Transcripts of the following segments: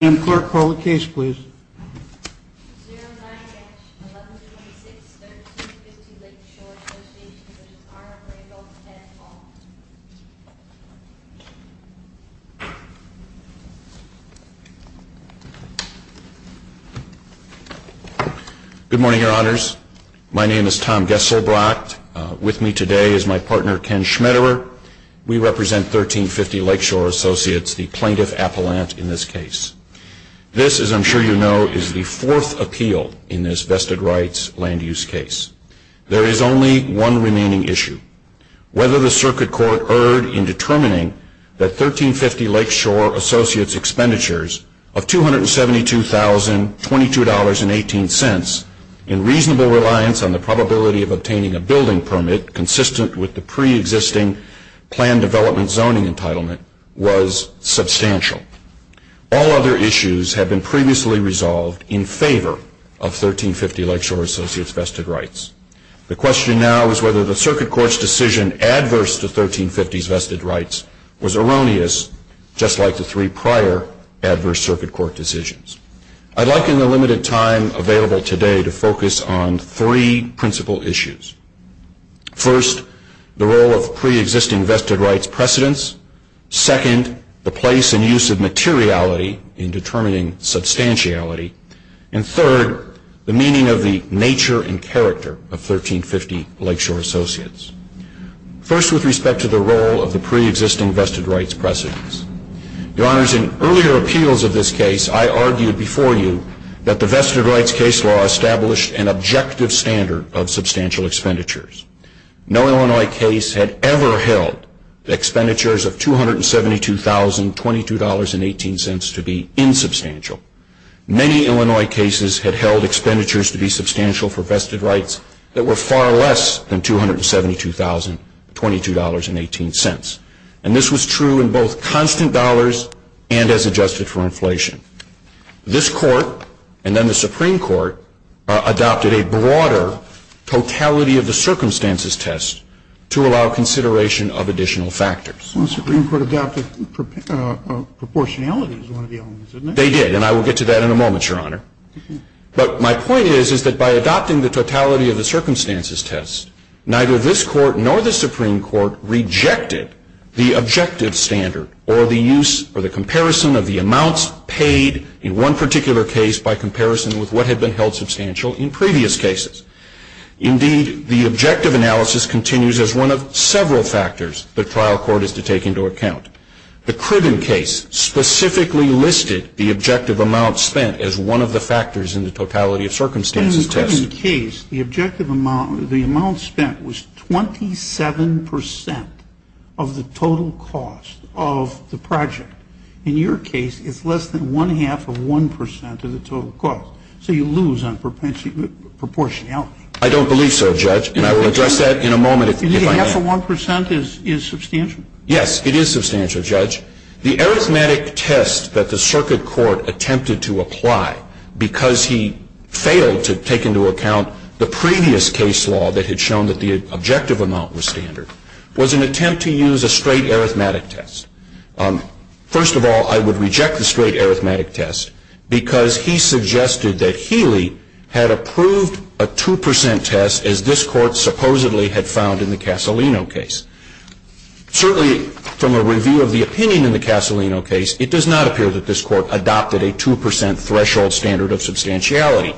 Good morning, Your Honors. My name is Tom Gessell-Brock. With me today is my partner Ken Schmetterer. We represent 1350 Lakeshore Associates, the plaintiff appellant in this case. This, as I'm sure you know, is the fourth appeal in this vested rights land use case. There is only one remaining issue. Whether the circuit court erred in determining that 1350 Lakeshore Associates expenditures of $272,022.18 in reasonable reliance on the probability of obtaining a building permit consistent with the pre-existing planned development zoning entitlement was substantial. All other issues have been previously resolved in favor of 1350 Lakeshore Associates vested rights. The question now is whether the circuit court's decision adverse to 1350's vested rights was erroneous, just like the three prior adverse circuit court decisions. I'd like, in the limited time available today, to focus on three principal issues. First, the role of pre-existing vested rights precedents. Second, the place and use of materiality in determining substantiality. And third, the meaning of the nature and character of 1350 Lakeshore Associates. First, with respect to the role of the pre-existing vested rights precedents. Your Honors, in earlier appeals of this case, I argued before you that the vested rights case law established an objective standard of substantial expenditures. No Illinois case had ever held expenditures of $272,022.18 to be insubstantial. Many Illinois cases had held expenditures to be substantial for vested rights that were far less than $272,022.18. And this was true in both constant dollars and as adjusted for inflation. This Court, and then the Supreme Court, adopted a broader totality of the circumstances test to allow consideration of additional factors. So the Supreme Court adopted proportionality as one of the elements, didn't it? They did, and I will get to that in a moment, Your Honor. But my point is, is that by adopting the totality of the circumstances test, neither this Court nor the Supreme Court rejected the objective standard or the use or the comparison of the amounts paid in one particular case by comparison with what had been held substantial in previous cases. Indeed, the objective analysis continues as one of several factors the trial court is to take into account. The Cribben case specifically listed the objective amount spent as one of the factors in the totality of circumstances test. In the Cribben case, the objective amount, the amount spent was 27% of the total cost of the project. In your case, it's less than one-half of 1% of the total cost. So you lose on proportionality. I don't believe so, Judge, and I will address that in a moment. And the half of 1% is substantial? Yes, it is substantial, Judge. The arithmetic test that the circuit court attempted to apply because he failed to take into account the previous case law that had shown that the objective amount was standard was an attempt to use a straight arithmetic test. First of all, I would reject the straight arithmetic test because he suggested that Healy had approved a 2% test as this Court supposedly had found in the Casalino case. Certainly, from a review of the opinion in the Casalino case, it does not appear that this Court adopted a 2% threshold standard of substantiality.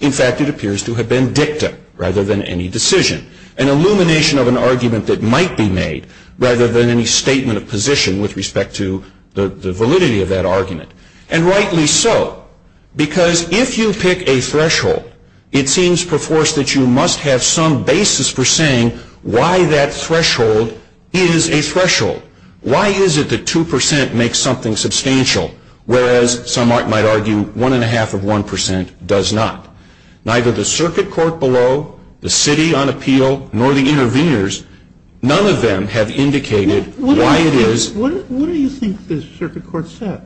In fact, it appears to have been dicta rather than any decision, an illumination of an argument that might be made rather than any statement of position with respect to the validity of that argument. And rightly so, because if you pick a threshold, it seems perforce that you must have some basis for saying why that threshold is a threshold. Why is it that 2% makes something substantial, whereas some might argue 1.5% of 1% does not? Neither the circuit court below, the city on appeal, nor the interveners, none of them have indicated why it is. What do you think the circuit court said?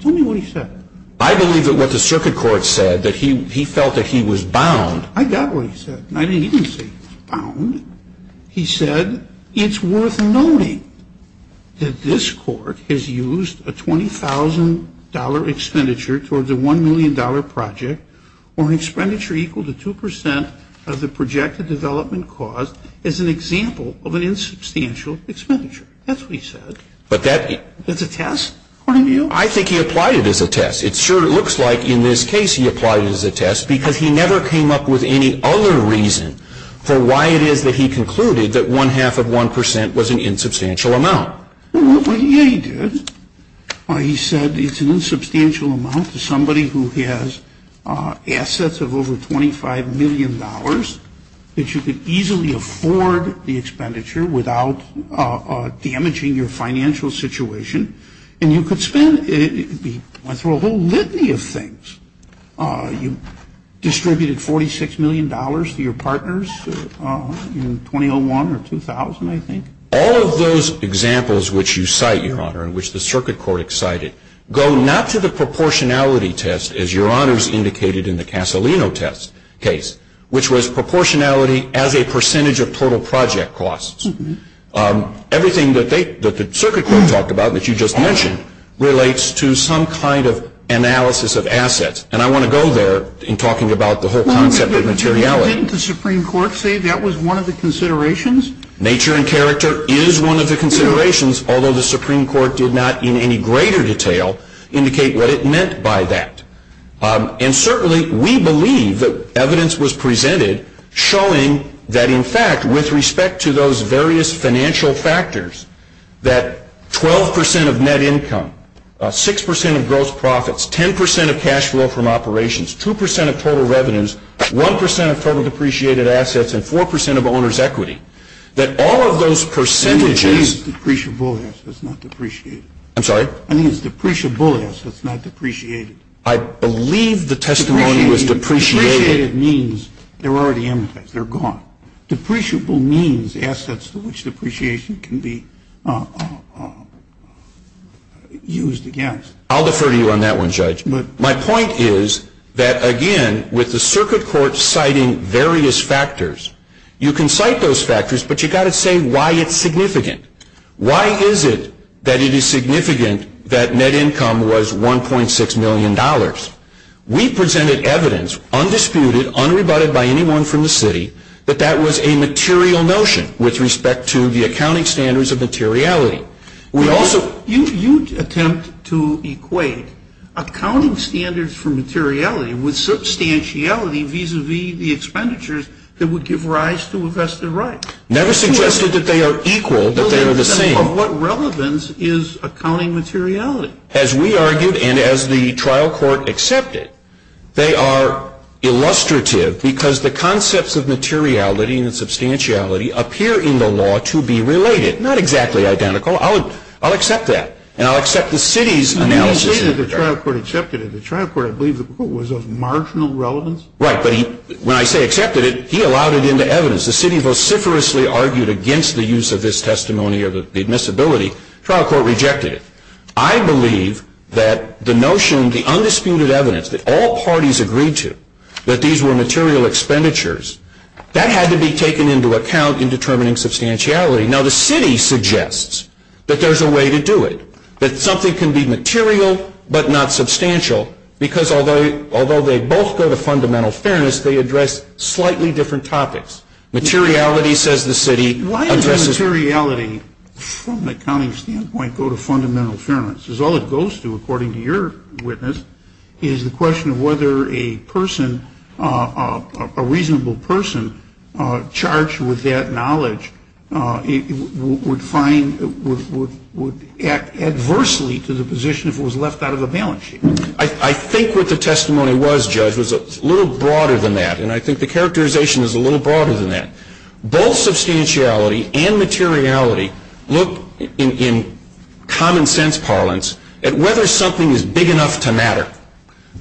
Tell me what he said. I believe that what the circuit court said, that he felt that he was bound. I got what he said. I didn't even say bound. He said it's worth noting that this Court has used a $20,000 expenditure towards a $1 million project or an expenditure equal to 2% of the projected development cost as an example of an insubstantial expenditure. That's what he said. That's a test, according to you? I think he applied it as a test. It sure looks like in this case he applied it as a test because he never came up with any other reason for why it is that he concluded that 1.5% of 1% was an insubstantial amount. Well, yeah, he did. He said it's an insubstantial amount to somebody who has assets of over $25 million that you could easily afford the expenditure without damaging your financial situation. And you could spend, he went through a whole litany of things. You distributed $46 million to your partners in 2001 or 2000, I think. All of those examples which you cite, Your Honor, and which the circuit court cited, go not to the proportionality test as Your Honors indicated in the Casolino test case, which was proportionality as a percentage of total project costs. Everything that the circuit court talked about that you just mentioned relates to some kind of analysis of assets. And I want to go there in talking about the whole concept of materiality. Didn't the Supreme Court say that was one of the considerations? Nature and character is one of the considerations, although the Supreme Court did not in any greater detail indicate what it meant by that. And certainly we believe that evidence was presented showing that, in fact, with respect to those various financial factors, that 12 percent of net income, 6 percent of gross profits, 10 percent of cash flow from operations, 2 percent of total revenues, 1 percent of total depreciated assets, and 4 percent of owner's equity, that all of those percentages. I think it's depreciable assets, not depreciated. I'm sorry? I think it's depreciable assets, not depreciated. I believe the testimony was depreciated. Depreciated means they're already amortized. They're gone. Depreciable means assets to which depreciation can be used against. I'll defer to you on that one, Judge. My point is that, again, with the circuit court citing various factors, you can cite those factors, but you've got to say why it's significant. Why is it that it is significant that net income was $1.6 million? We presented evidence, undisputed, unrebutted by anyone from the city, that that was a material notion with respect to the accounting standards of materiality. You attempt to equate accounting standards for materiality with substantiality vis-à-vis the expenditures that would give rise to a vested right. Never suggested that they are equal, that they are the same. Well, then what relevance is accounting materiality? As we argued and as the trial court accepted, they are illustrative because the concepts of materiality and substantiality appear in the law to be related. Not exactly identical. I'll accept that, and I'll accept the city's analysis. When you say that the trial court accepted it, the trial court, I believe, was of marginal relevance? Right, but when I say accepted it, he allowed it into evidence. The city vociferously argued against the use of this testimony or the admissibility. The trial court rejected it. I believe that the notion, the undisputed evidence that all parties agreed to, that these were material expenditures, that had to be taken into account in determining substantiality. Now, the city suggests that there's a way to do it, that something can be material but not substantial because although they both go to fundamental fairness, they address slightly different topics. Materiality, says the city. Why does materiality, from an accounting standpoint, go to fundamental fairness? Because all it goes to, according to your witness, is the question of whether a person, a reasonable person, charged with that knowledge would find, would act adversely to the position if it was left out of the balance sheet. I think what the testimony was, Judge, was a little broader than that, and I think the characterization is a little broader than that. Both substantiality and materiality look, in common sense parlance, at whether something is big enough to matter.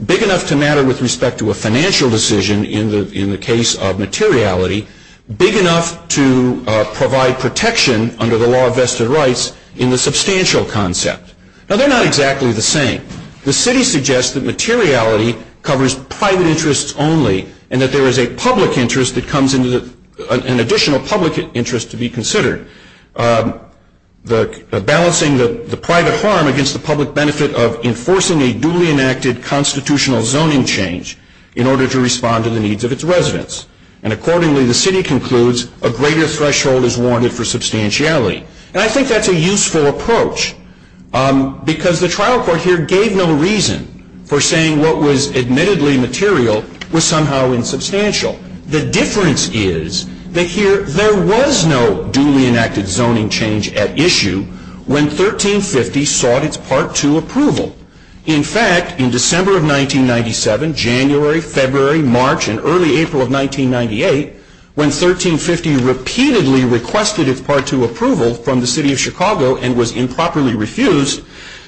Big enough to matter with respect to a financial decision in the case of materiality. Big enough to provide protection under the law of vested rights in the substantial concept. Now, they're not exactly the same. The city suggests that materiality covers private interests only, and that there is a public interest that comes into the, an additional public interest to be considered. Balancing the private harm against the public benefit of enforcing a duly enacted constitutional zoning change in order to respond to the needs of its residents. And accordingly, the city concludes, a greater threshold is warranted for substantiality. And I think that's a useful approach, because the trial court here gave no reason for saying what was admittedly material was somehow insubstantial. The difference is that here, there was no duly enacted zoning change at issue when 1350 sought its Part 2 approval. In fact, in December of 1997, January, February, March, and early April of 1998, when 1350 repeatedly requested its Part 2 approval from the city of Chicago and was improperly refused,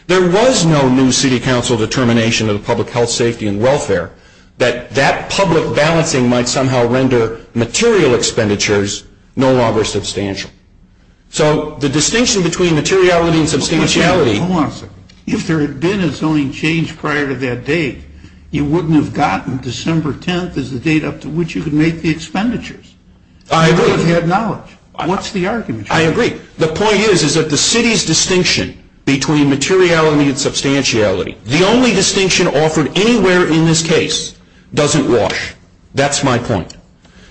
there was no new city council determination of the public health, safety, and welfare that that public balancing might somehow render material expenditures no longer substantial. So the distinction between materiality and substantiality. Hold on a second. If there had been a zoning change prior to that date, you wouldn't have gotten December 10th as the date up to which you could make the expenditures. I agree. You would have had knowledge. What's the argument? I agree. The point is, is that the city's distinction between materiality and substantiality, the only distinction offered anywhere in this case, doesn't wash. That's my point.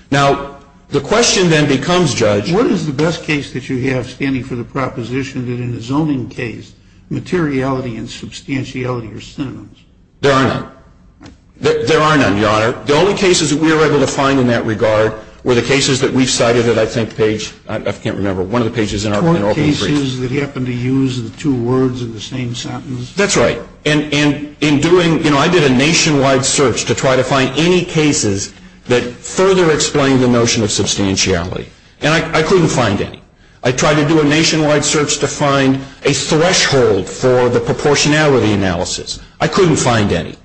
Now, the question then becomes, Judge. What is the best case that you have standing for the proposition that in the zoning case, materiality and substantiality are synonyms? There are none. There are none, Your Honor. The only cases that we were able to find in that regard were the cases that we've cited that I think page, I can't remember, one of the pages in our open brief. The cases that happen to use the two words in the same sentence. That's right. And in doing, you know, I did a nationwide search to try to find any cases that further explain the notion of substantiality. And I couldn't find any. I tried to do a nationwide search to find a threshold for the proportionality analysis. I couldn't find any.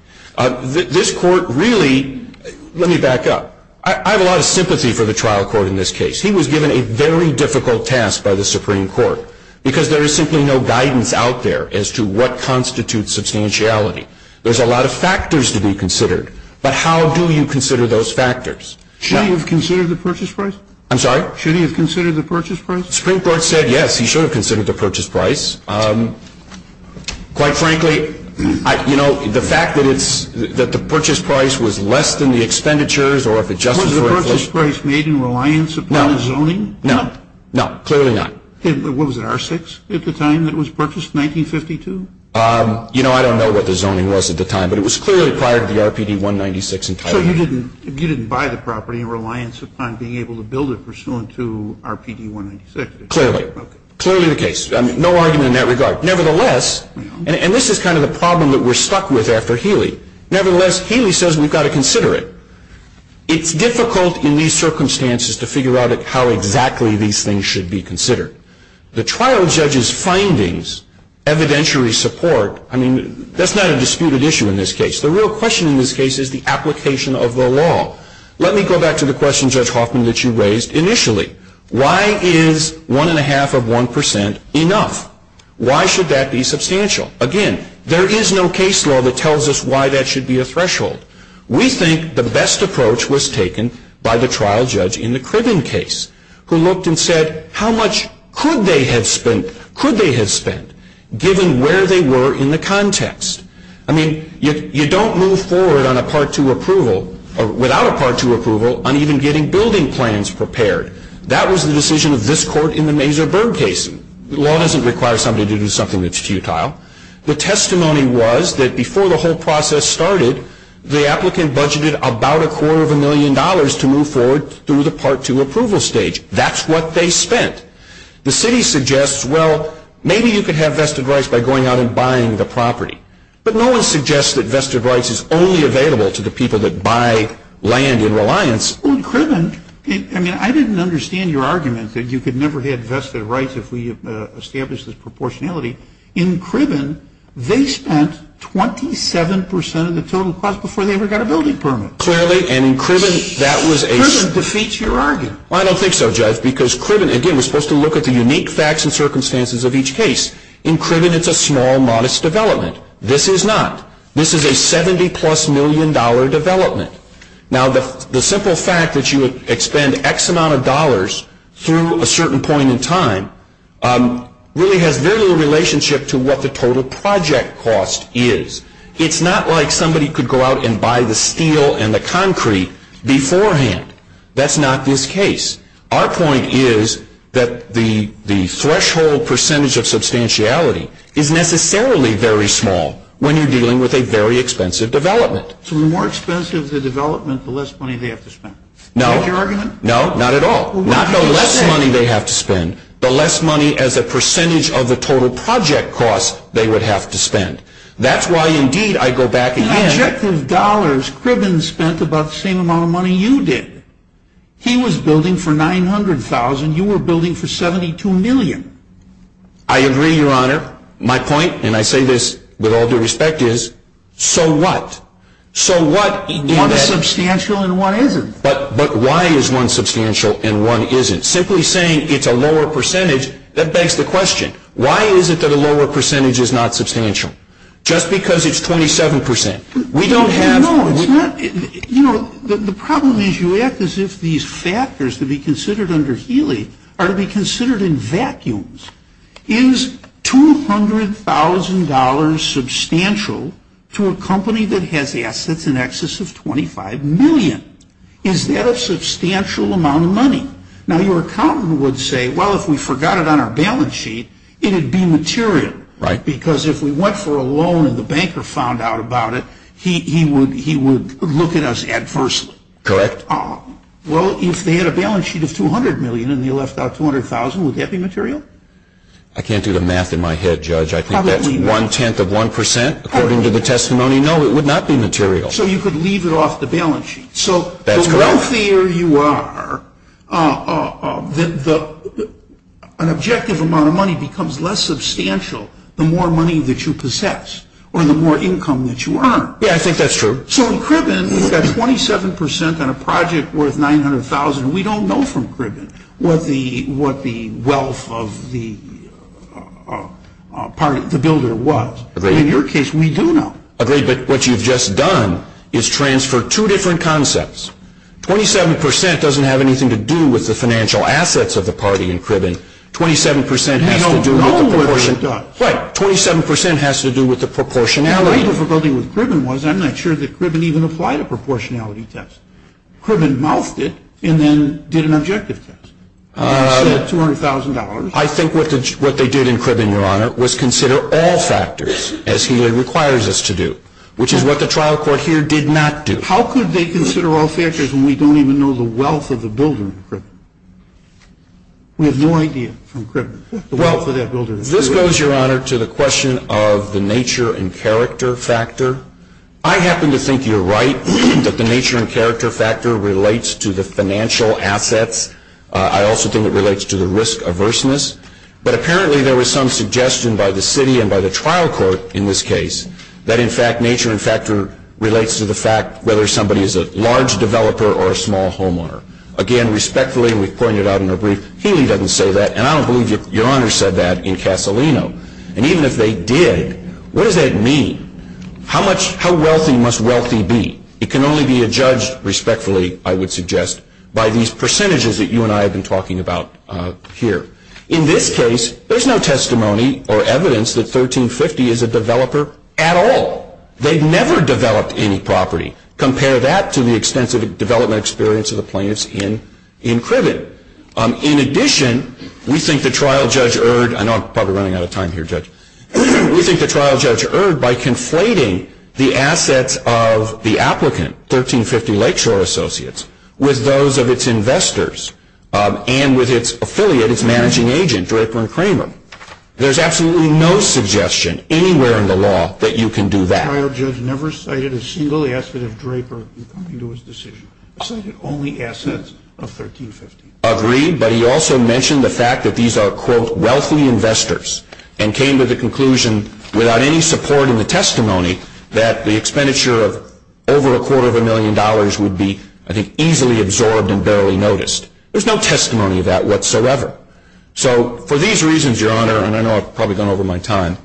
This Court really, let me back up. I have a lot of sympathy for the trial court in this case. He was given a very difficult task by the Supreme Court, because there is simply no guidance out there as to what constitutes substantiality. There's a lot of factors to be considered. But how do you consider those factors? Should he have considered the purchase price? I'm sorry? Should he have considered the purchase price? The Supreme Court said yes, he should have considered the purchase price. Quite frankly, you know, the fact that it's, that the purchase price was less than the expenditures or if it just was for inflation. Was the purchase price made in reliance upon the zoning? No. No, clearly not. What was it, R6 at the time that it was purchased, 1952? You know, I don't know what the zoning was at the time. But it was clearly prior to the RPD 196. So you didn't buy the property in reliance upon being able to build it pursuant to RPD 196? Clearly. Clearly the case. No argument in that regard. Nevertheless, and this is kind of the problem that we're stuck with after Healy. Nevertheless, Healy says we've got to consider it. It's difficult in these circumstances to figure out how exactly these things should be considered. The trial judge's findings, evidentiary support, I mean, that's not a disputed issue in this case. The real question in this case is the application of the law. Let me go back to the question, Judge Hoffman, that you raised initially. Why is one and a half of one percent enough? Why should that be substantial? Again, there is no case law that tells us why that should be a threshold. We think the best approach was taken by the trial judge in the Cribben case, who looked and said how much could they have spent, could they have spent, given where they were in the context. I mean, you don't move forward on a Part 2 approval, or without a Part 2 approval, on even getting building plans prepared. That was the decision of this court in the Mazer-Berg case. The law doesn't require somebody to do something that's futile. The testimony was that before the whole process started, the applicant budgeted about a quarter of a million dollars to move forward to the Part 2 approval stage. That's what they spent. The city suggests, well, maybe you could have vested rights by going out and buying the property. But no one suggests that vested rights is only available to the people that buy land in Reliance. Well, in Cribben, I mean, I didn't understand your argument that you could never have vested rights if we established this proportionality. In Cribben, they spent 27 percent of the total cost before they ever got a building permit. Clearly, and in Cribben, that was a... Cribben defeats your argument. Well, I don't think so, Judge, because Cribben, again, was supposed to look at the unique facts and circumstances of each case. In Cribben, it's a small, modest development. This is not. This is a 70-plus million dollar development. Now, the simple fact that you would expend X amount of dollars through a certain point in time really has very little relationship to what the total project cost is. It's not like somebody could go out and buy the steel and the concrete beforehand. That's not this case. Our point is that the threshold percentage of substantiality is necessarily very small when you're dealing with a very expensive development. So the more expensive the development, the less money they have to spend. Is that your argument? No, not at all. Not the less money they have to spend, the less money as a percentage of the total project cost they would have to spend. That's why, indeed, I go back again... In objective dollars, Cribben spent about the same amount of money you did. He was building for $900,000. You were building for $72 million. I agree, Your Honor. My point, and I say this with all due respect, is so what? One is substantial and one isn't. But why is one substantial and one isn't? Simply saying it's a lower percentage, that begs the question. Why is it that a lower percentage is not substantial? Just because it's 27%. We don't have... No, it's not... You know, the problem is you act as if these factors to be considered under Healy are to be considered in vacuums. Is $200,000 substantial to a company that has assets in excess of $25 million? Is that a substantial amount of money? Now, your accountant would say, well, if we forgot it on our balance sheet, it would be material. Right. Because if we went for a loan and the banker found out about it, he would look at us adversely. Correct. Well, if they had a balance sheet of $200 million and you left out $200,000, would that be material? I can't do the math in my head, Judge. I think that's one-tenth of 1%, according to the testimony. No, it would not be material. So you could leave it off the balance sheet. That's correct. So the wealthier you are, an objective amount of money becomes less substantial the more money that you possess or the more income that you earn. Yeah, I think that's true. So in Kribben, we've got 27% on a project worth $900,000. We don't know from Kribben what the wealth of the builder was. Agreed. In your case, we do know. Agreed. But what you've just done is transfer two different concepts. 27% doesn't have anything to do with the financial assets of the party in Kribben. We don't know what it does. Right. 27% has to do with the proportionality. My difficulty with Kribben was I'm not sure that Kribben even applied a proportionality test. Kribben mouthed it and then did an objective test. You said $200,000. I think what they did in Kribben, Your Honor, was consider all factors as he requires us to do, which is what the trial court here did not do. How could they consider all factors when we don't even know the wealth of the builder in Kribben? We have no idea from Kribben the wealth of that builder in Kribben. This goes, Your Honor, to the question of the nature and character factor. I happen to think you're right that the nature and character factor relates to the financial assets. I also think it relates to the risk averseness. But apparently there was some suggestion by the city and by the trial court in this case that, in fact, the nature and factor relates to the fact whether somebody is a large developer or a small homeowner. Again, respectfully, and we've pointed out in a brief, Healy doesn't say that, and I don't believe Your Honor said that in Casalino. And even if they did, what does that mean? How wealthy must wealthy be? It can only be adjudged respectfully, I would suggest, by these percentages that you and I have been talking about here. In this case, there's no testimony or evidence that 1350 is a developer at all. They've never developed any property. Compare that to the extensive development experience of the plaintiffs in Kribben. In addition, we think the trial judge erred. I know I'm probably running out of time here, Judge. We think the trial judge erred by conflating the assets of the applicant, 1350 Lakeshore Associates, with those of its investors and with its affiliate, its managing agent, Draper and Kramer. There's absolutely no suggestion anywhere in the law that you can do that. The trial judge never cited a single asset of Draper in coming to his decision. He cited only assets of 1350. Agreed, but he also mentioned the fact that these are, quote, wealthy investors and came to the conclusion without any support in the testimony that the expenditure of over a quarter of a million dollars would be, I think, easily absorbed and barely noticed. There's no testimony of that whatsoever. So for these reasons, Your Honor, and I know I've probably gone over my time,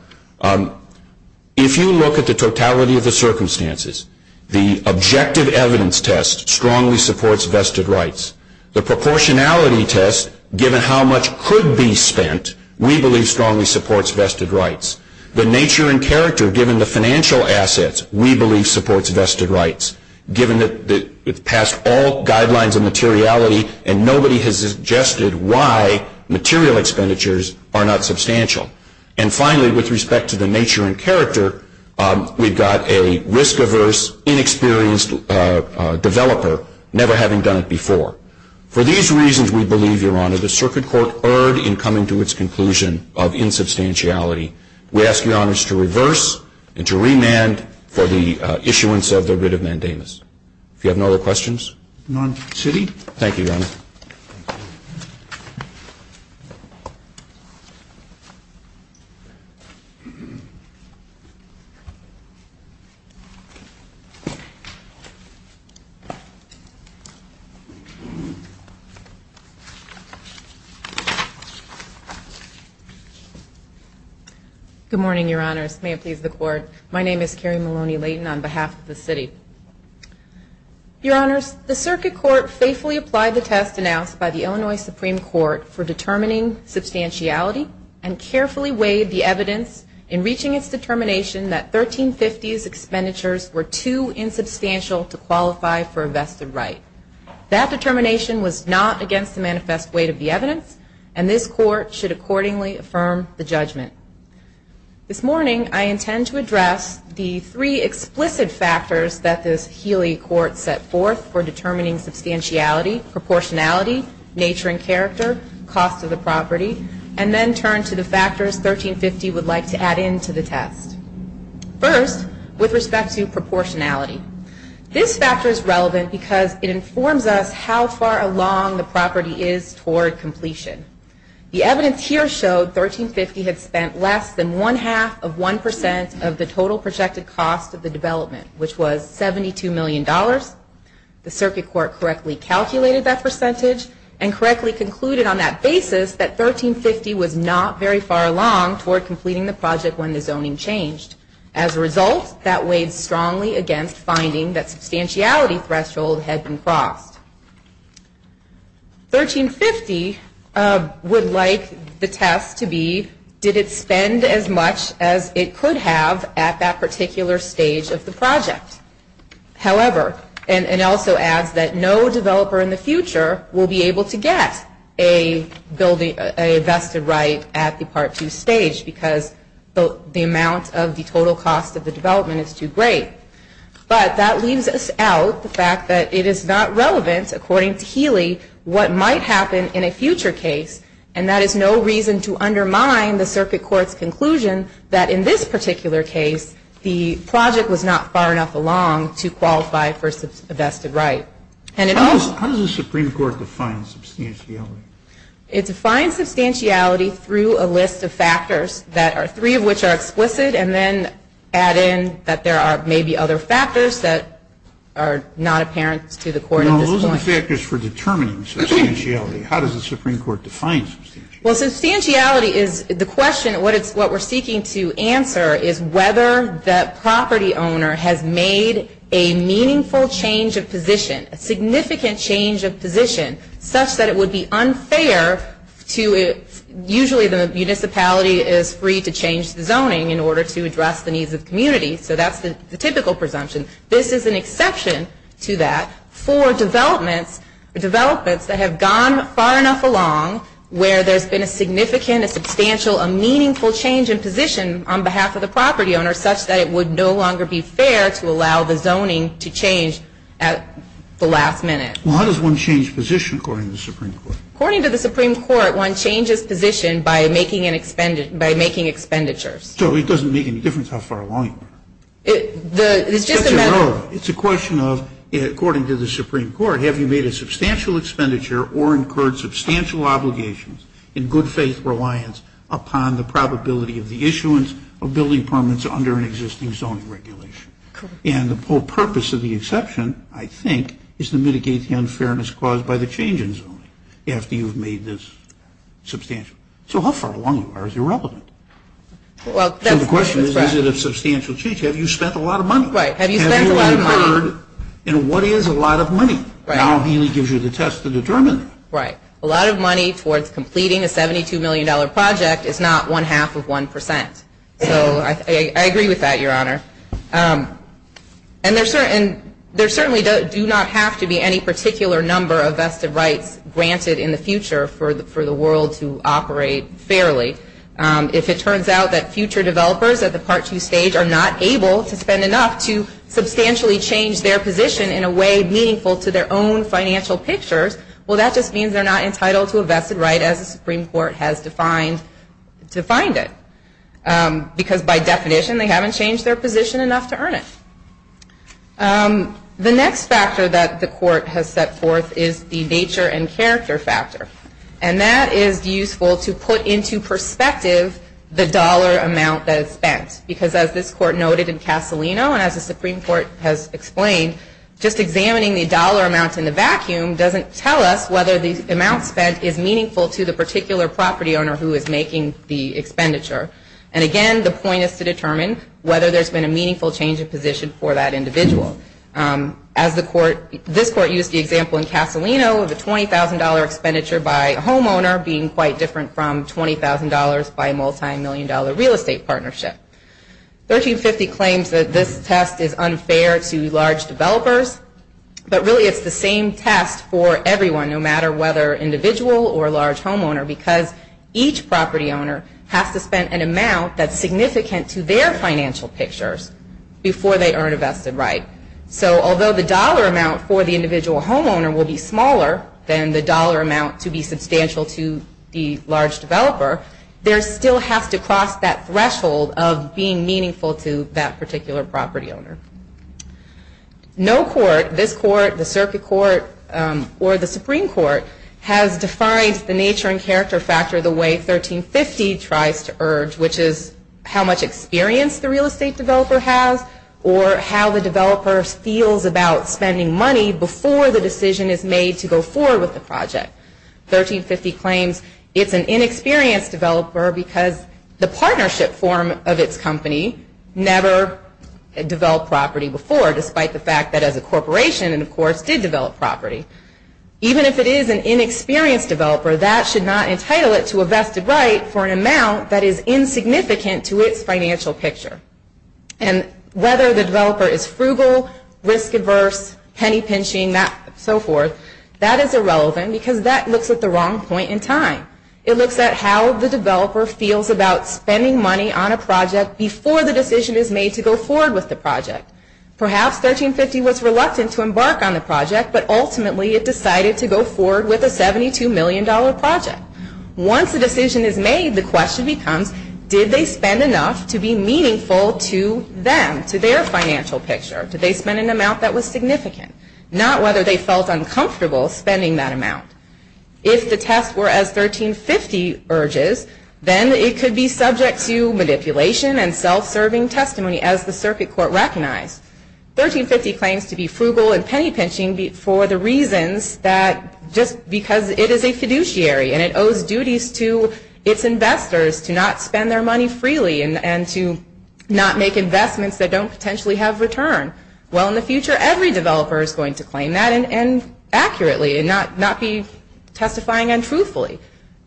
if you look at the totality of the circumstances, the objective evidence test strongly supports vested rights. The proportionality test, given how much could be spent, we believe strongly supports vested rights. The nature and character, given the financial assets, we believe supports vested rights, given that it's passed all guidelines of materiality and nobody has suggested why material expenditures are not substantial. And finally, with respect to the nature and character, we've got a risk-averse, inexperienced developer never having done it before. For these reasons, we believe, Your Honor, the circuit court erred in coming to its conclusion of insubstantiality. We ask Your Honors to reverse and to remand for the issuance of the writ of mandamus. If you have no other questions? None. City? Thank you, Your Honor. Good morning, Your Honors. May it please the Court. My name is Carrie Maloney-Layton on behalf of the city. Your Honors, the circuit court faithfully applied the test announced by the Illinois Supreme Court for determining substantiality and carefully weighed the evidence in reaching its determination that 1350's expenditures were too insubstantial to qualify for a vested right. That determination was not against the manifest weight of the evidence and this Court should accordingly affirm the judgment. This morning, I intend to address the three explicit factors that this Healy Court set forth for determining substantiality, proportionality, nature and character, cost of the property, and then turn to the factors 1350 would like to add in to the test. First, with respect to proportionality. This factor is relevant because it informs us how far along the property is toward completion. The evidence here showed 1350 had spent less than one-half of one percent of the total projected cost of the development, which was $72 million. The circuit court correctly calculated that percentage and correctly concluded on that basis that 1350 was not very far along toward completing the project when the zoning changed. As a result, that weighed strongly against finding that substantiality threshold had been crossed. 1350 would like the test to be, did it spend as much as it could have at that particular stage of the project? However, and also adds that no developer in the future will be able to get a vested right at the Part 2 stage because the amount of the total cost of the development is too great. But that leaves us out, the fact that it is not relevant, according to Healy, what might happen in a future case. And that is no reason to undermine the circuit court's conclusion that in this particular case, the project was not far enough along to qualify for a vested right. How does the Supreme Court define substantiality? It defines substantiality through a list of factors, three of which are explicit, and then add in that there are maybe other factors that are not apparent to the court at this point. Those are the factors for determining substantiality. How does the Supreme Court define substantiality? Well, substantiality is, the question, what we're seeking to answer is whether the property owner has made a meaningful change of position, a significant change of position, such that it would be unfair to, usually the municipality is free to change the zoning in order to address the needs of the community, so that's the typical presumption. This is an exception to that for developments that have gone far enough along where there's been a significant, a substantial, a meaningful change in position on behalf of the property owner such that it would no longer be fair to allow the zoning to change at the last minute. Well, how does one change position according to the Supreme Court? According to the Supreme Court, one changes position by making expenditures. So it doesn't make any difference how far along you are. It's just a matter of. It's a question of, according to the Supreme Court, have you made a substantial expenditure or incurred substantial obligations in good faith reliance upon the probability of the issuance of building permits under an existing zoning regulation? And the whole purpose of the exception, I think, is to mitigate the unfairness caused by the change in zoning after you've made this substantial. So how far along are you relevant? So the question is, is it a substantial change? Have you spent a lot of money? Have you incurred? And what is a lot of money? Now Haley gives you the test to determine that. Right. A lot of money towards completing a $72 million project is not one half of one percent. So I agree with that, Your Honor. And there certainly do not have to be any particular number of vested rights granted in the future for the world to operate fairly. If it turns out that future developers at the Part 2 stage are not able to spend enough to substantially change their position in a way meaningful to their own financial pictures, well, that just means they're not entitled to a vested right as the Supreme Court has defined it. Because by definition, they haven't changed their position enough to earn it. The next factor that the Court has set forth is the nature and character factor. And that is useful to put into perspective the dollar amount that is spent. Because as this Court noted in Castellino, and as the Supreme Court has explained, just examining the dollar amounts in the vacuum doesn't tell us whether the amount spent is meaningful to the particular property owner who is making the expenditure. And again, the point is to determine whether there's been a meaningful change of position for that individual. As this Court used the example in Castellino of the $20,000 expenditure by a homeowner being quite different from $20,000 by a multimillion dollar real estate partnership. 1350 claims that this test is unfair to large developers, but really it's the same test for everyone, no matter whether individual or large homeowner, because each property owner has to spend an amount that's significant to their financial pictures before they earn a vested right. So although the dollar amount for the individual homeowner will be smaller than the dollar amount to be substantial to the large developer, there still has to cross that threshold of being meaningful to that particular property owner. No court, this Court, the Circuit Court, or the Supreme Court, has defined the nature and character factor the way 1350 tries to urge, which is how much experience the real estate developer has, or how the developer feels about spending money before the decision is made to go forward with the project. 1350 claims it's an inexperienced developer because the partnership form of its company never developed property before, despite the fact that as a corporation it, of course, did develop property. Even if it is an inexperienced developer, that should not entitle it to a vested right for an amount that is insignificant to its financial picture. And whether the developer is frugal, risk-adverse, penny-pinching, so forth, that is irrelevant because that looks at the wrong point in time. It looks at how the developer feels about spending money on a project before the decision is made to go forward with the project. Perhaps 1350 was reluctant to embark on the project, but ultimately it decided to go forward with a $72 million project. Once the decision is made, the question becomes, did they spend enough to be meaningful to them, to their financial picture? Did they spend an amount that was significant? Not whether they felt uncomfortable spending that amount. If the tests were as 1350 urges, then it could be subject to manipulation and self-serving testimony as the circuit court recognized. 1350 claims to be frugal and penny-pinching for the reasons that just because it is a fiduciary and it owes duties to its investors to not spend their money freely and to not make investments that don't potentially have return. Well, in the future, every developer is going to claim that accurately and not be testifying untruthfully.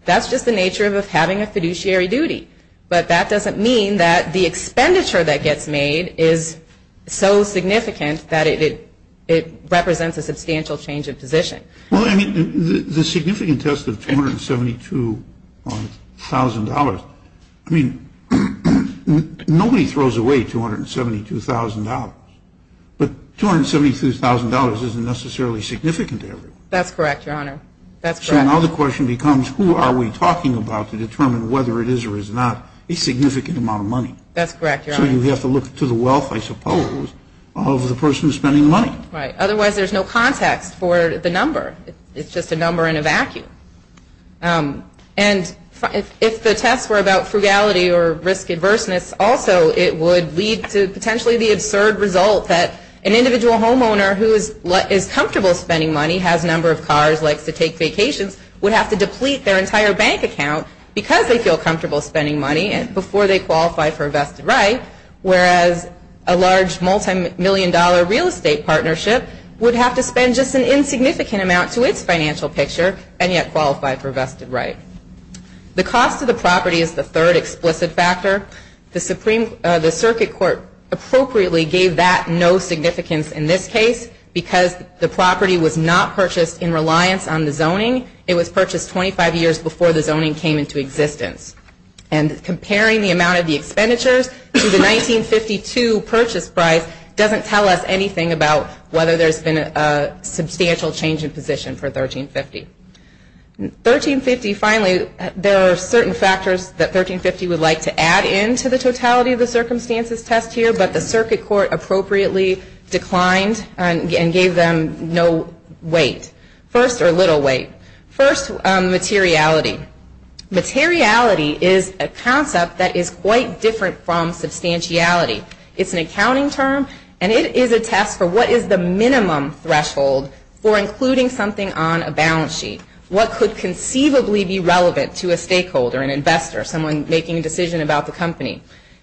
That's just the nature of having a fiduciary duty. But that doesn't mean that the expenditure that gets made is so significant that it represents a substantial change of position. Well, I mean, the significant test of $272,000, I mean, nobody throws away $272,000. But $272,000 isn't necessarily significant to everyone. That's correct, Your Honor. That's correct. So now the question becomes, who are we talking about to determine whether it is or is not a significant amount of money? That's correct, Your Honor. So you have to look to the wealth, I suppose, of the person spending the money. Right. Otherwise, there's no context for the number. It's just a number in a vacuum. And if the tests were about frugality or risk-adverseness, also it would lead to potentially the absurd result that an individual homeowner who is comfortable spending money, has a number of cars, likes to take vacations, would have to deplete their entire bank account because they feel comfortable spending money before they qualify for a vested right, whereas a large multimillion-dollar real estate partnership would have to spend just an insignificant amount to its financial picture and yet qualify for a vested right. The cost of the property is the third explicit factor. The circuit court appropriately gave that no significance in this case because the property was not purchased in reliance on the zoning. It was purchased 25 years before the zoning came into existence. And comparing the amount of the expenditures to the 1952 purchase price doesn't tell us anything about whether there's been a substantial change in position for 1350. 1350, finally, there are certain factors that 1350 would like to add in to the totality of the circumstances test here, but the circuit court appropriately declined and gave them no weight, first, or little weight. First, materiality. Materiality is a concept that is quite different from substantiality. It's an accounting term, and it is a test for what is the minimum threshold for including something on a balance sheet, what could conceivably be relevant to a stakeholder, an investor, someone making a decision about the company.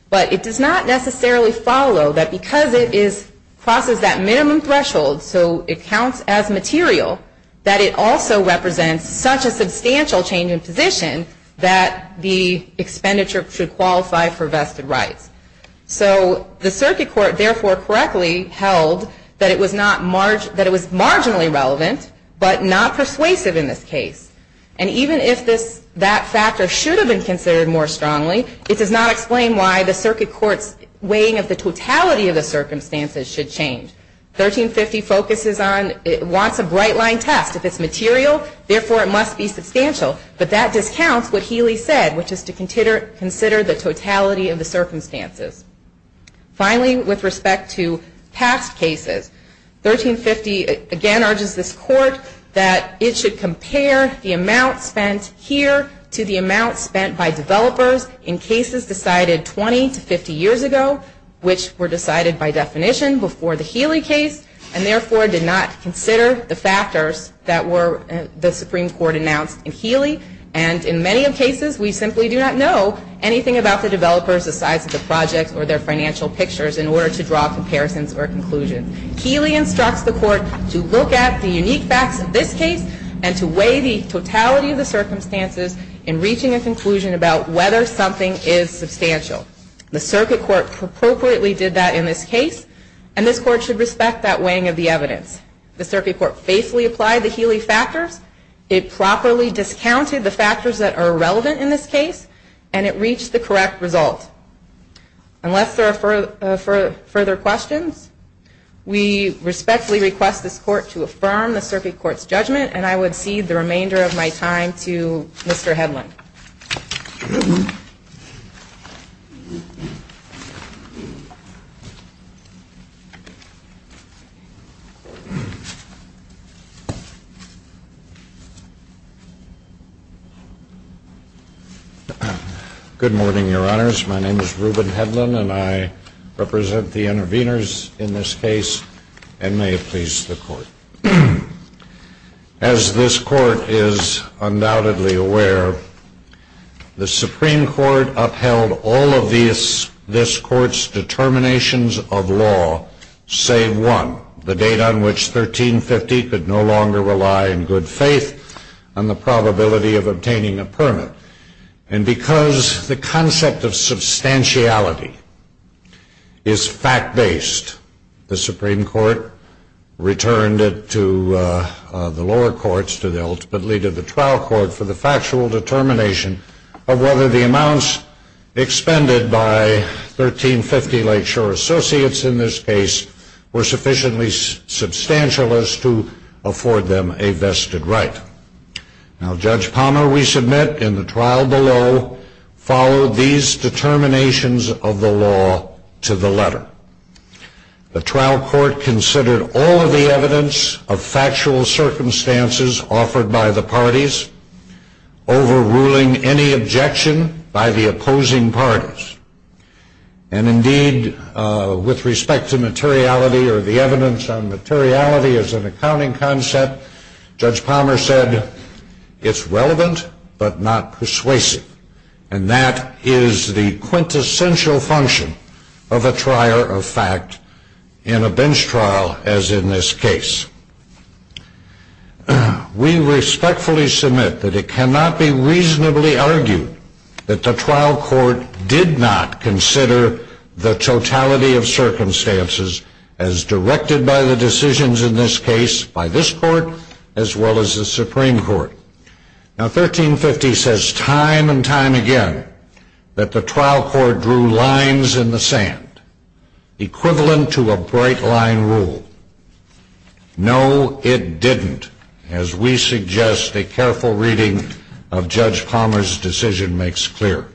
But it does not necessarily follow that because it crosses that minimum threshold, so it counts as material, that it also represents such a substantial change in position that the expenditure should qualify for vested rights. So the circuit court, therefore, correctly held that it was marginally relevant, but not persuasive in this case. And even if that factor should have been considered more strongly, it does not explain why the circuit court's weighing of the totality of the circumstances should change. 1350 focuses on, it wants a bright line test. If it's material, therefore it must be substantial, but that discounts what Healy said, which is to consider the totality of the circumstances. Finally, with respect to past cases, 1350 again urges this court that it should compare the amount spent here to the amount spent by developers in cases decided 20 to 50 years ago, which were decided by definition before the Healy case, and therefore did not consider the factors that the Supreme Court announced in Healy. And in many cases, we simply do not know anything about the developers, the size of the project, or their financial pictures in order to draw comparisons or conclusions. Healy instructs the court to look at the unique facts of this case and to weigh the totality of the circumstances in reaching a conclusion about whether something is substantial. The circuit court appropriately did that in this case, and this court should respect that weighing of the evidence. The circuit court faithfully applied the Healy factors, it properly discounted the factors that are relevant in this case, and it reached the correct result. Unless there are further questions, we respectfully request this court to affirm the circuit court's judgment, and I would cede the remainder of my time to Mr. Hedlund. Mr. Hedlund. Good morning, Your Honors. My name is Reuben Hedlund, and I represent the intervenors in this case, and may it please the court. As this court is undoubtedly aware, the Supreme Court upheld all of this court's determinations of law, save one, the date on which 1350 could no longer rely in good faith on the probability of obtaining a permit. And because the concept of substantiality is fact-based, the Supreme Court returned it to the lower courts, to the ultimate lead of the trial court, for the factual determination of whether the amounts expended by 1350 Lakeshore Associates in this case were sufficiently substantial as to afford them a vested right. Now, Judge Palmer, we submit, in the trial below, followed these determinations of the law to the letter. The trial court considered all of the evidence of factual circumstances offered by the parties, overruling any objection by the opposing parties. And indeed, with respect to materiality, or the evidence on materiality as an accounting concept, Judge Palmer said, it's relevant, but not persuasive. And that is the quintessential function of a trier of fact in a bench trial, as in this case. We respectfully submit that it cannot be reasonably argued that the trial court did not consider the totality of circumstances as directed by the decisions in this case by this court, as well as the Supreme Court. Now, 1350 says time and time again that the trial court drew lines in the sand, equivalent to a bright-line rule. No, it didn't, as we suggest a careful reading of Judge Palmer's decision makes clear.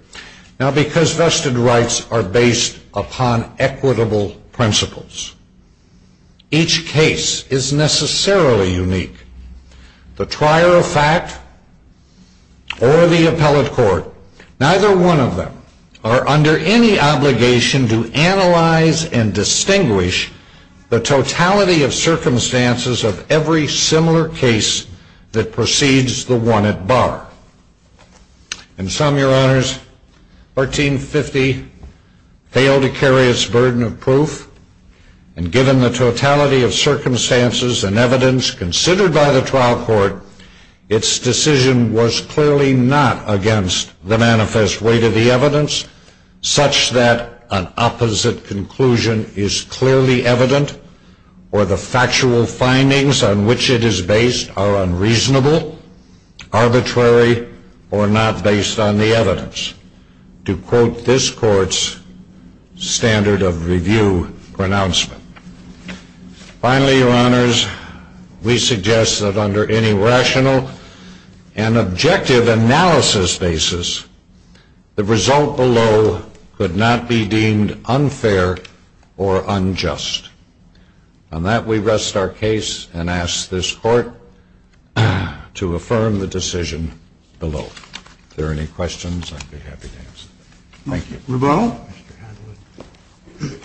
Now, because vested rights are based upon equitable principles, each case is necessarily unique. The trier of fact or the appellate court, neither one of them are under any obligation to analyze and distinguish the totality of circumstances of every similar case that precedes the one at bar. In sum, Your Honors, 1350 failed to carry its burden of proof, and given the totality of circumstances and evidence considered by the trial court, its decision was clearly not against the manifest weight of the evidence, such that an opposite conclusion is clearly evident, or the factual findings on which it is based are unreasonable, arbitrary, or not based on the evidence, to quote this court's standard of review pronouncement. Finally, Your Honors, we suggest that under any rational and objective analysis basis, the result below could not be deemed unfair or unjust. On that, we rest our case and ask this court to affirm the decision below. If there are any questions, I'd be happy to answer them. Thank you. Mr. Hedlund.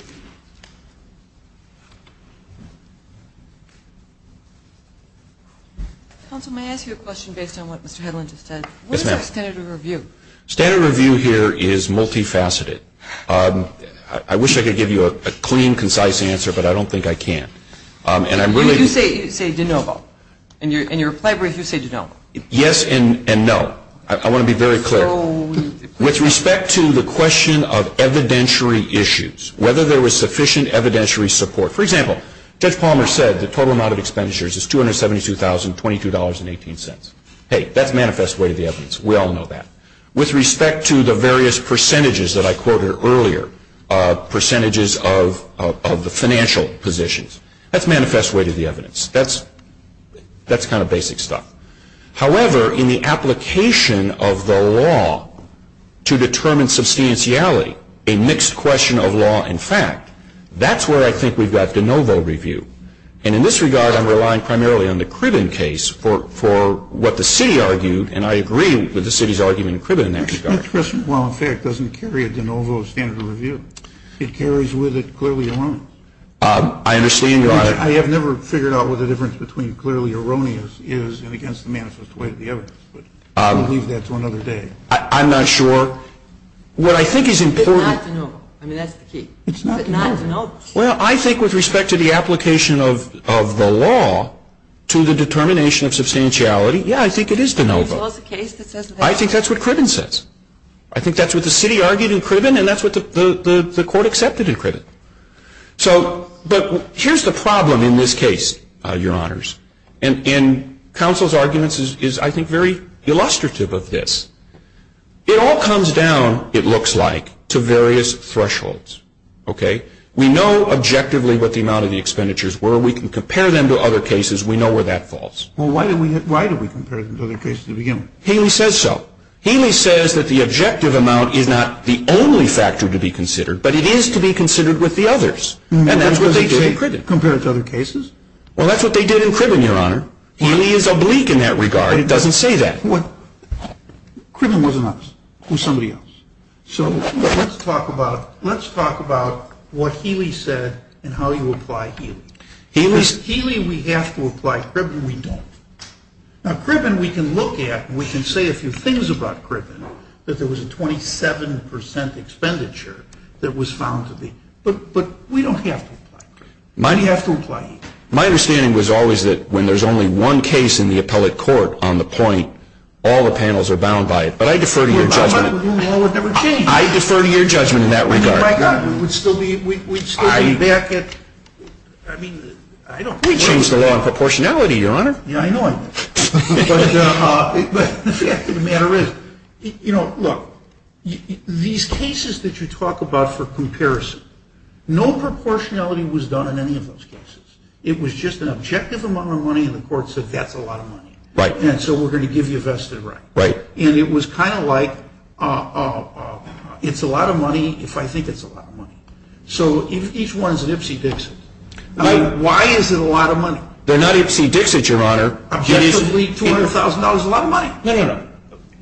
Counsel, may I ask you a question based on what Mr. Hedlund just said? Yes, ma'am. What is our standard of review? Standard of review here is multifaceted. I wish I could give you a clean, concise answer, but I don't think I can. You say de novo. In your reply brief, you say de novo. Yes and no. I want to be very clear. With respect to the question of evidentiary issues, whether there was sufficient evidentiary support, for example, Judge Palmer said the total amount of expenditures is $272,022.18. Hey, that's manifest weight of the evidence. We all know that. With respect to the various percentages that I quoted earlier, percentages of the financial positions, that's manifest weight of the evidence. That's kind of basic stuff. However, in the application of the law to determine substantiality, a mixed question of law and fact, that's where I think we've got de novo review. And in this regard, I'm relying primarily on the Cribben case for what the city argued, and I agree with the city's argument in Cribben in that regard. Mixed question of law and fact doesn't carry a de novo standard of review. It carries with it clearly erroneous. I understand you. I have never figured out what the difference between clearly erroneous is and against the manifest weight of the evidence. But I'll leave that to another day. I'm not sure. What I think is important. It's not de novo. I mean, that's the key. It's not de novo. It's not de novo. Well, I think with respect to the application of the law to the determination of substantiality, yeah, I think it is de novo. I think that's what Cribben says. I think that's what the city argued in Cribben, and that's what the court accepted in Cribben. But here's the problem in this case, Your Honors, and counsel's arguments is, I think, very illustrative of this. It all comes down, it looks like, to various thresholds, okay? We know objectively what the amount of the expenditures were. We can compare them to other cases. We know where that falls. Well, why do we compare them to other cases to begin with? Healy says so. Healy says that the objective amount is not the only factor to be considered, but it is to be considered with the others. And that's what they did in Cribben. Compared to other cases? Well, that's what they did in Cribben, Your Honor. Healy is oblique in that regard. It doesn't say that. Cribben wasn't us. It was somebody else. So let's talk about what Healy said and how you apply Healy. Healy, we have to apply Cribben. We don't. Now, Cribben, we can look at, and we can say a few things about Cribben, that there was a 27% expenditure that was found to be. But we don't have to apply Cribben. We have to apply Healy. My understanding was always that when there's only one case in the appellate court on the point, all the panels are bound by it. But I defer to your judgment. Well, my judgment would never change. I defer to your judgment in that regard. We'd still be back at, I mean, I don't know. We changed the law on proportionality, Your Honor. Yeah, I know I did. But the fact of the matter is, you know, look, these cases that you talk about for comparison, no proportionality was done in any of those cases. It was just an objective amount of money, and the court said, that's a lot of money. Right. And so we're going to give you a vested right. Right. And it was kind of like, it's a lot of money if I think it's a lot of money. So if each one is an Ipsy Dixit, why is it a lot of money? They're not Ipsy Dixit, Your Honor. Objectively, $200,000 is a lot of money. No, no, no.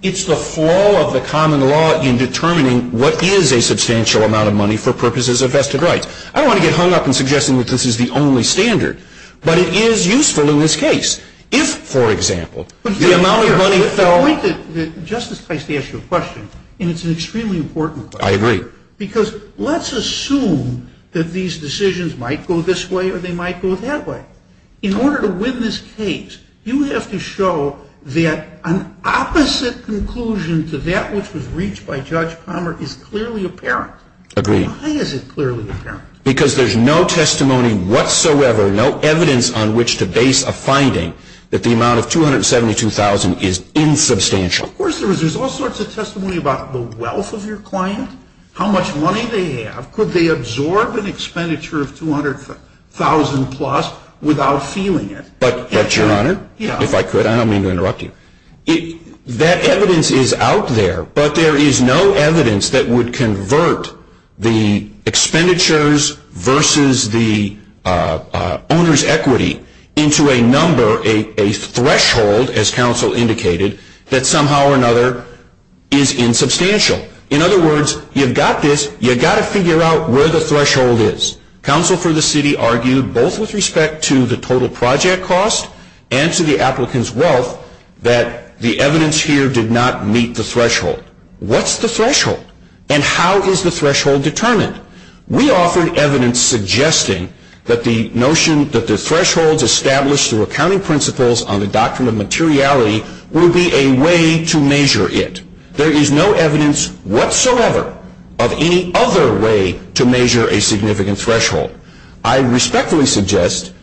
It's the flaw of the common law in determining what is a substantial amount of money for purposes of vested rights. I don't want to get hung up in suggesting that this is the only standard. But it is useful in this case. If, for example, the amount of money fell. The point that Justice Price asked you a question, and it's an extremely important question. I agree. Because let's assume that these decisions might go this way or they might go that way. In order to win this case, you have to show that an opposite conclusion to that which was reached by Judge Palmer is clearly apparent. Agreed. Why is it clearly apparent? Because there's no testimony whatsoever, no evidence on which to base a finding that the amount of $272,000 is insubstantial. Of course there is. There's all sorts of testimony about the wealth of your client, how much money they have, could they absorb an expenditure of $200,000-plus without feeling it. But, Your Honor, if I could, I don't mean to interrupt you. That evidence is out there. But there is no evidence that would convert the expenditures versus the owner's equity into a number, a threshold, as counsel indicated, that somehow or another is insubstantial. In other words, you've got this. You've got to figure out where the threshold is. Counsel for the city argued both with respect to the total project cost and to the applicant's wealth that the evidence here did not meet the threshold. What's the threshold? And how is the threshold determined? We offered evidence suggesting that the notion that the thresholds established through accounting principles on the doctrine of materiality will be a way to measure it. There is no evidence whatsoever of any other way to measure a significant threshold. I respectfully suggest,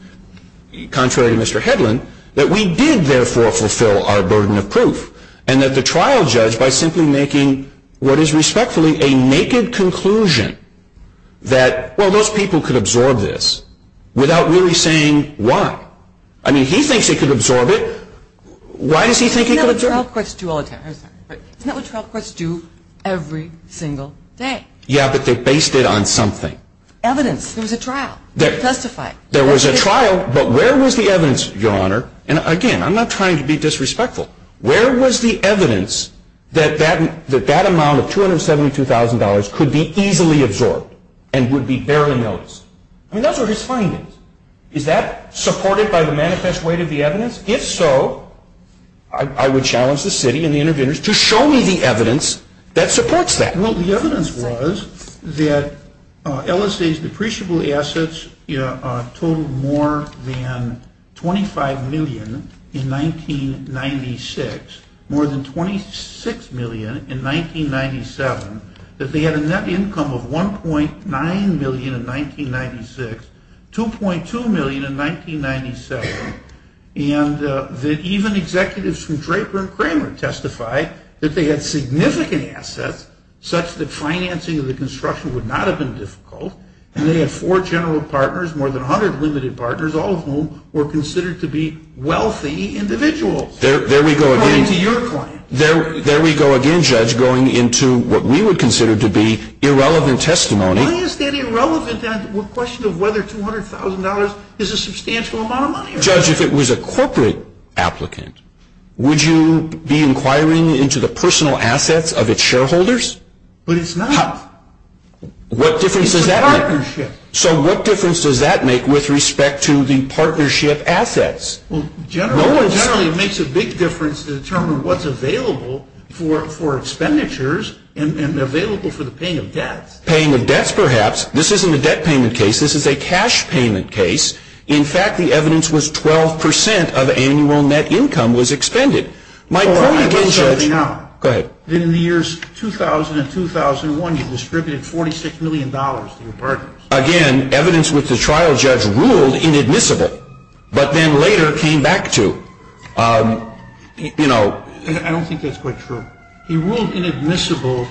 contrary to Mr. Hedlund, that we did, therefore, fulfill our burden of proof and that the trial judge, by simply making what is respectfully a naked conclusion that, well, most people could absorb this without really saying why. I mean, he thinks he could absorb it. Why does he think he could absorb it? Isn't that what trial courts do all the time? Isn't that what trial courts do every single day? Yeah, but they based it on something. Evidence. There was a trial. Testify. There was a trial, but where was the evidence, Your Honor? And, again, I'm not trying to be disrespectful. Where was the evidence that that amount of $272,000 could be easily absorbed and would be barely noticed? I mean, those are his findings. Is that supported by the manifest weight of the evidence? If so, I would challenge the city and the interveners to show me the evidence that supports that. Well, the evidence was that LSA's depreciable assets totaled more than $25 million in 1996, more than $26 million in 1997, that they had a net income of $1.9 million in 1996, $2.2 million in 1997, and that even executives from Draper and Kramer testified that they had significant assets such that financing of the construction would not have been difficult, and they had four general partners, more than 100 limited partners, all of whom were considered to be wealthy individuals. There we go again. According to your client. There we go again, Judge, going into what we would consider to be irrelevant testimony. Why is that irrelevant? The question of whether $200,000 is a substantial amount of money or not. Judge, if it was a corporate applicant, would you be inquiring into the personal assets of its shareholders? But it's not. What difference does that make? It's a partnership. So what difference does that make with respect to the partnership assets? Well, generally it makes a big difference to determine what's available for expenditures and available for the paying of debts. Paying of debts, perhaps. This isn't a debt payment case. This is a cash payment case. In fact, the evidence was 12 percent of annual net income was expended. My point again, Judge. Go ahead. In the years 2000 and 2001, you distributed $46 million to your partners. Again, evidence with the trial judge ruled inadmissible, but then later came back to, you know. I don't think that's quite true. He ruled inadmissible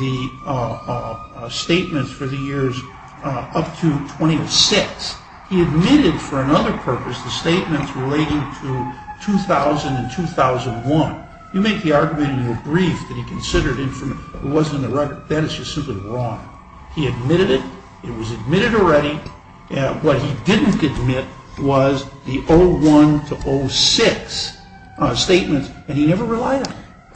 the statements for the years up to 2006. He admitted for another purpose the statements relating to 2000 and 2001. You make the argument in your brief that he considered it wasn't a record. That is just simply wrong. He admitted it. It was admitted already. What he didn't admit was the 01 to 06 statements, and he never relied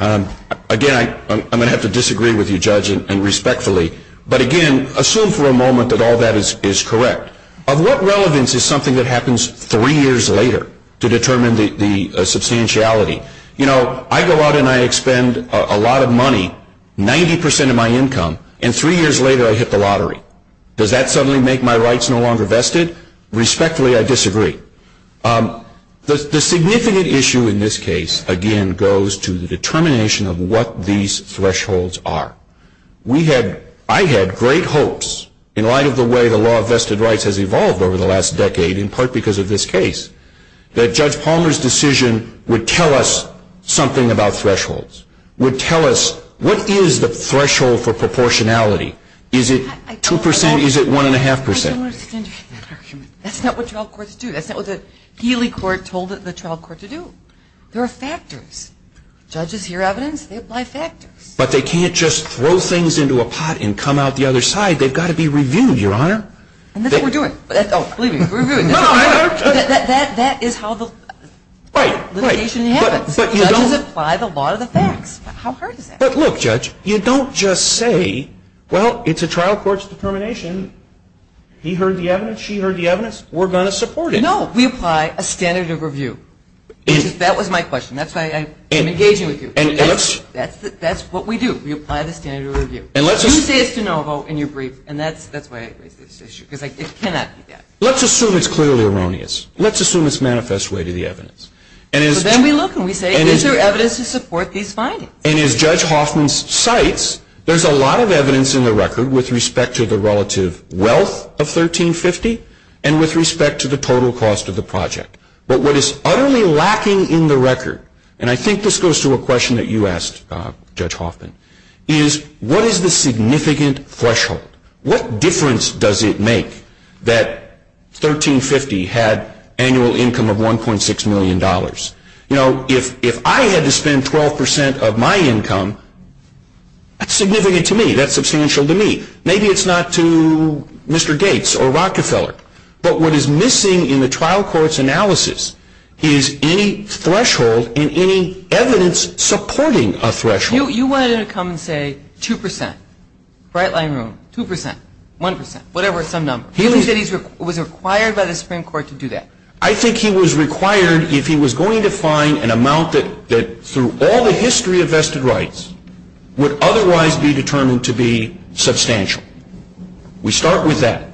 on them. Again, I'm going to have to disagree with you, Judge, and respectfully, but again, assume for a moment that all that is correct. Of what relevance is something that happens three years later to determine the substantiality? You know, I go out and I expend a lot of money, 90 percent of my income, and three years later I hit the lottery. Does that suddenly make my rights no longer vested? Respectfully, I disagree. The significant issue in this case, again, goes to the determination of what these thresholds are. I had great hopes in light of the way the law of vested rights has evolved over the last decade, in part because of this case, that Judge Palmer's decision would tell us something about thresholds, would tell us what is the threshold for proportionality. Is it 2 percent? Is it 1.5 percent? That's not what trial courts do. That's not what the Healy court told the trial court to do. There are factors. Judges hear evidence, they apply factors. But they can't just throw things into a pot and come out the other side. They've got to be reviewed, Your Honor. And that's what we're doing. Believe me, we're reviewing. That is how the litigation happens. Judges apply the law to the facts. How hard is that? But look, Judge, you don't just say, well, it's a trial court's determination. He heard the evidence. She heard the evidence. We're going to support it. No, we apply a standard of review. That was my question. That's why I'm engaging with you. And that's what we do. We apply the standard of review. You say it's de novo and you're brief, and that's why I raised this issue, because it cannot be that. Let's assume it's clearly erroneous. Let's assume it's manifest way to the evidence. So then we look and we say, is there evidence to support these findings? And as Judge Hoffman cites, there's a lot of evidence in the record with respect to the relative wealth of 1350 and with respect to the total cost of the project. But what is utterly lacking in the record, and I think this goes to a question that you asked, Judge Hoffman, is what is the significant threshold? What difference does it make that 1350 had annual income of $1.6 million? You know, if I had to spend 12% of my income, that's significant to me. That's substantial to me. Maybe it's not to Mr. Gates or Rockefeller. But what is missing in the trial court's analysis is any threshold and any evidence supporting a threshold. You wanted him to come and say 2%, bright line room, 2%, 1%, whatever, some number. He said he was required by the Supreme Court to do that. I think he was required if he was going to find an amount that through all the history of vested rights would otherwise be determined to be substantial. We start with that.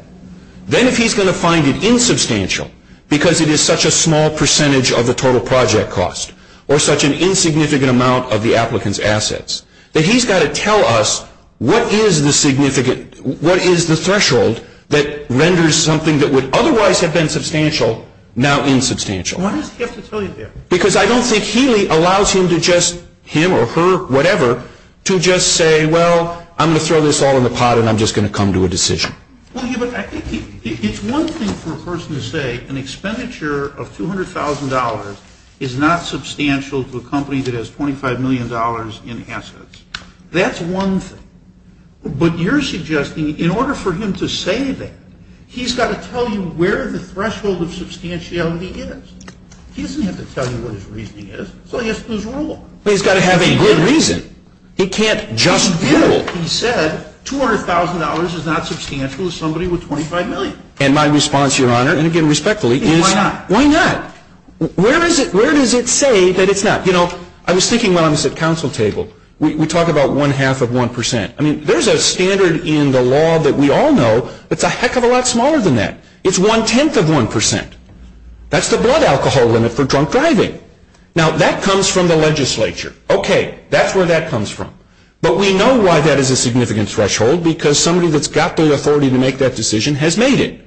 Then if he's going to find it insubstantial because it is such a small percentage of the total project cost that he's got to tell us what is the threshold that renders something that would otherwise have been substantial now insubstantial. Why does he have to tell you that? Because I don't think Healy allows him to just, him or her, whatever, to just say, well, I'm going to throw this all in the pot and I'm just going to come to a decision. Well, I think it's one thing for a person to say an expenditure of $200,000 is not substantial to a company that has $25 million in assets. That's one thing. But you're suggesting in order for him to say that, he's got to tell you where the threshold of substantiality is. He doesn't have to tell you what his reasoning is. So he has to lose the rule. But he's got to have a good reason. He can't just rule. He did. He said $200,000 is not substantial to somebody with $25 million. And my response, Your Honor, and again respectfully, is why not? Where does it say that it's not? You know, I was thinking when I was at council table. We talk about one-half of one percent. I mean, there's a standard in the law that we all know that's a heck of a lot smaller than that. It's one-tenth of one percent. That's the blood alcohol limit for drunk driving. Now, that comes from the legislature. Okay, that's where that comes from. But we know why that is a significant threshold because somebody that's got the authority to make that decision has made it.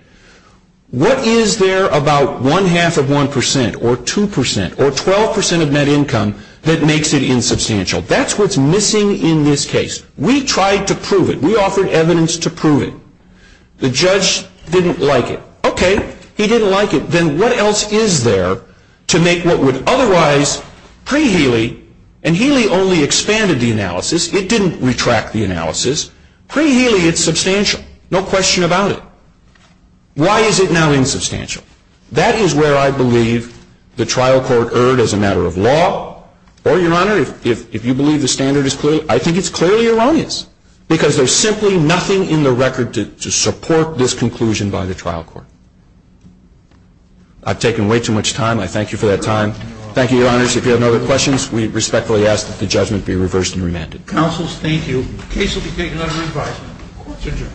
What is there about one-half of one percent or two percent or 12 percent of net income that makes it insubstantial? That's what's missing in this case. We tried to prove it. We offered evidence to prove it. The judge didn't like it. Okay, he didn't like it. Then what else is there to make what would otherwise pre-Healy, and Healy only expanded the analysis. Pre-Healy, it's substantial. No question about it. Why is it now insubstantial? That is where I believe the trial court erred as a matter of law. Or, Your Honor, if you believe the standard is clear, I think it's clearly erroneous because there's simply nothing in the record to support this conclusion by the trial court. I've taken way too much time. I thank you for that time. Thank you, Your Honors. If you have no other questions, we respectfully ask that the judgment be reversed and remanded. Counsel, thank you. The case will be taken under advisement. Court is adjourned.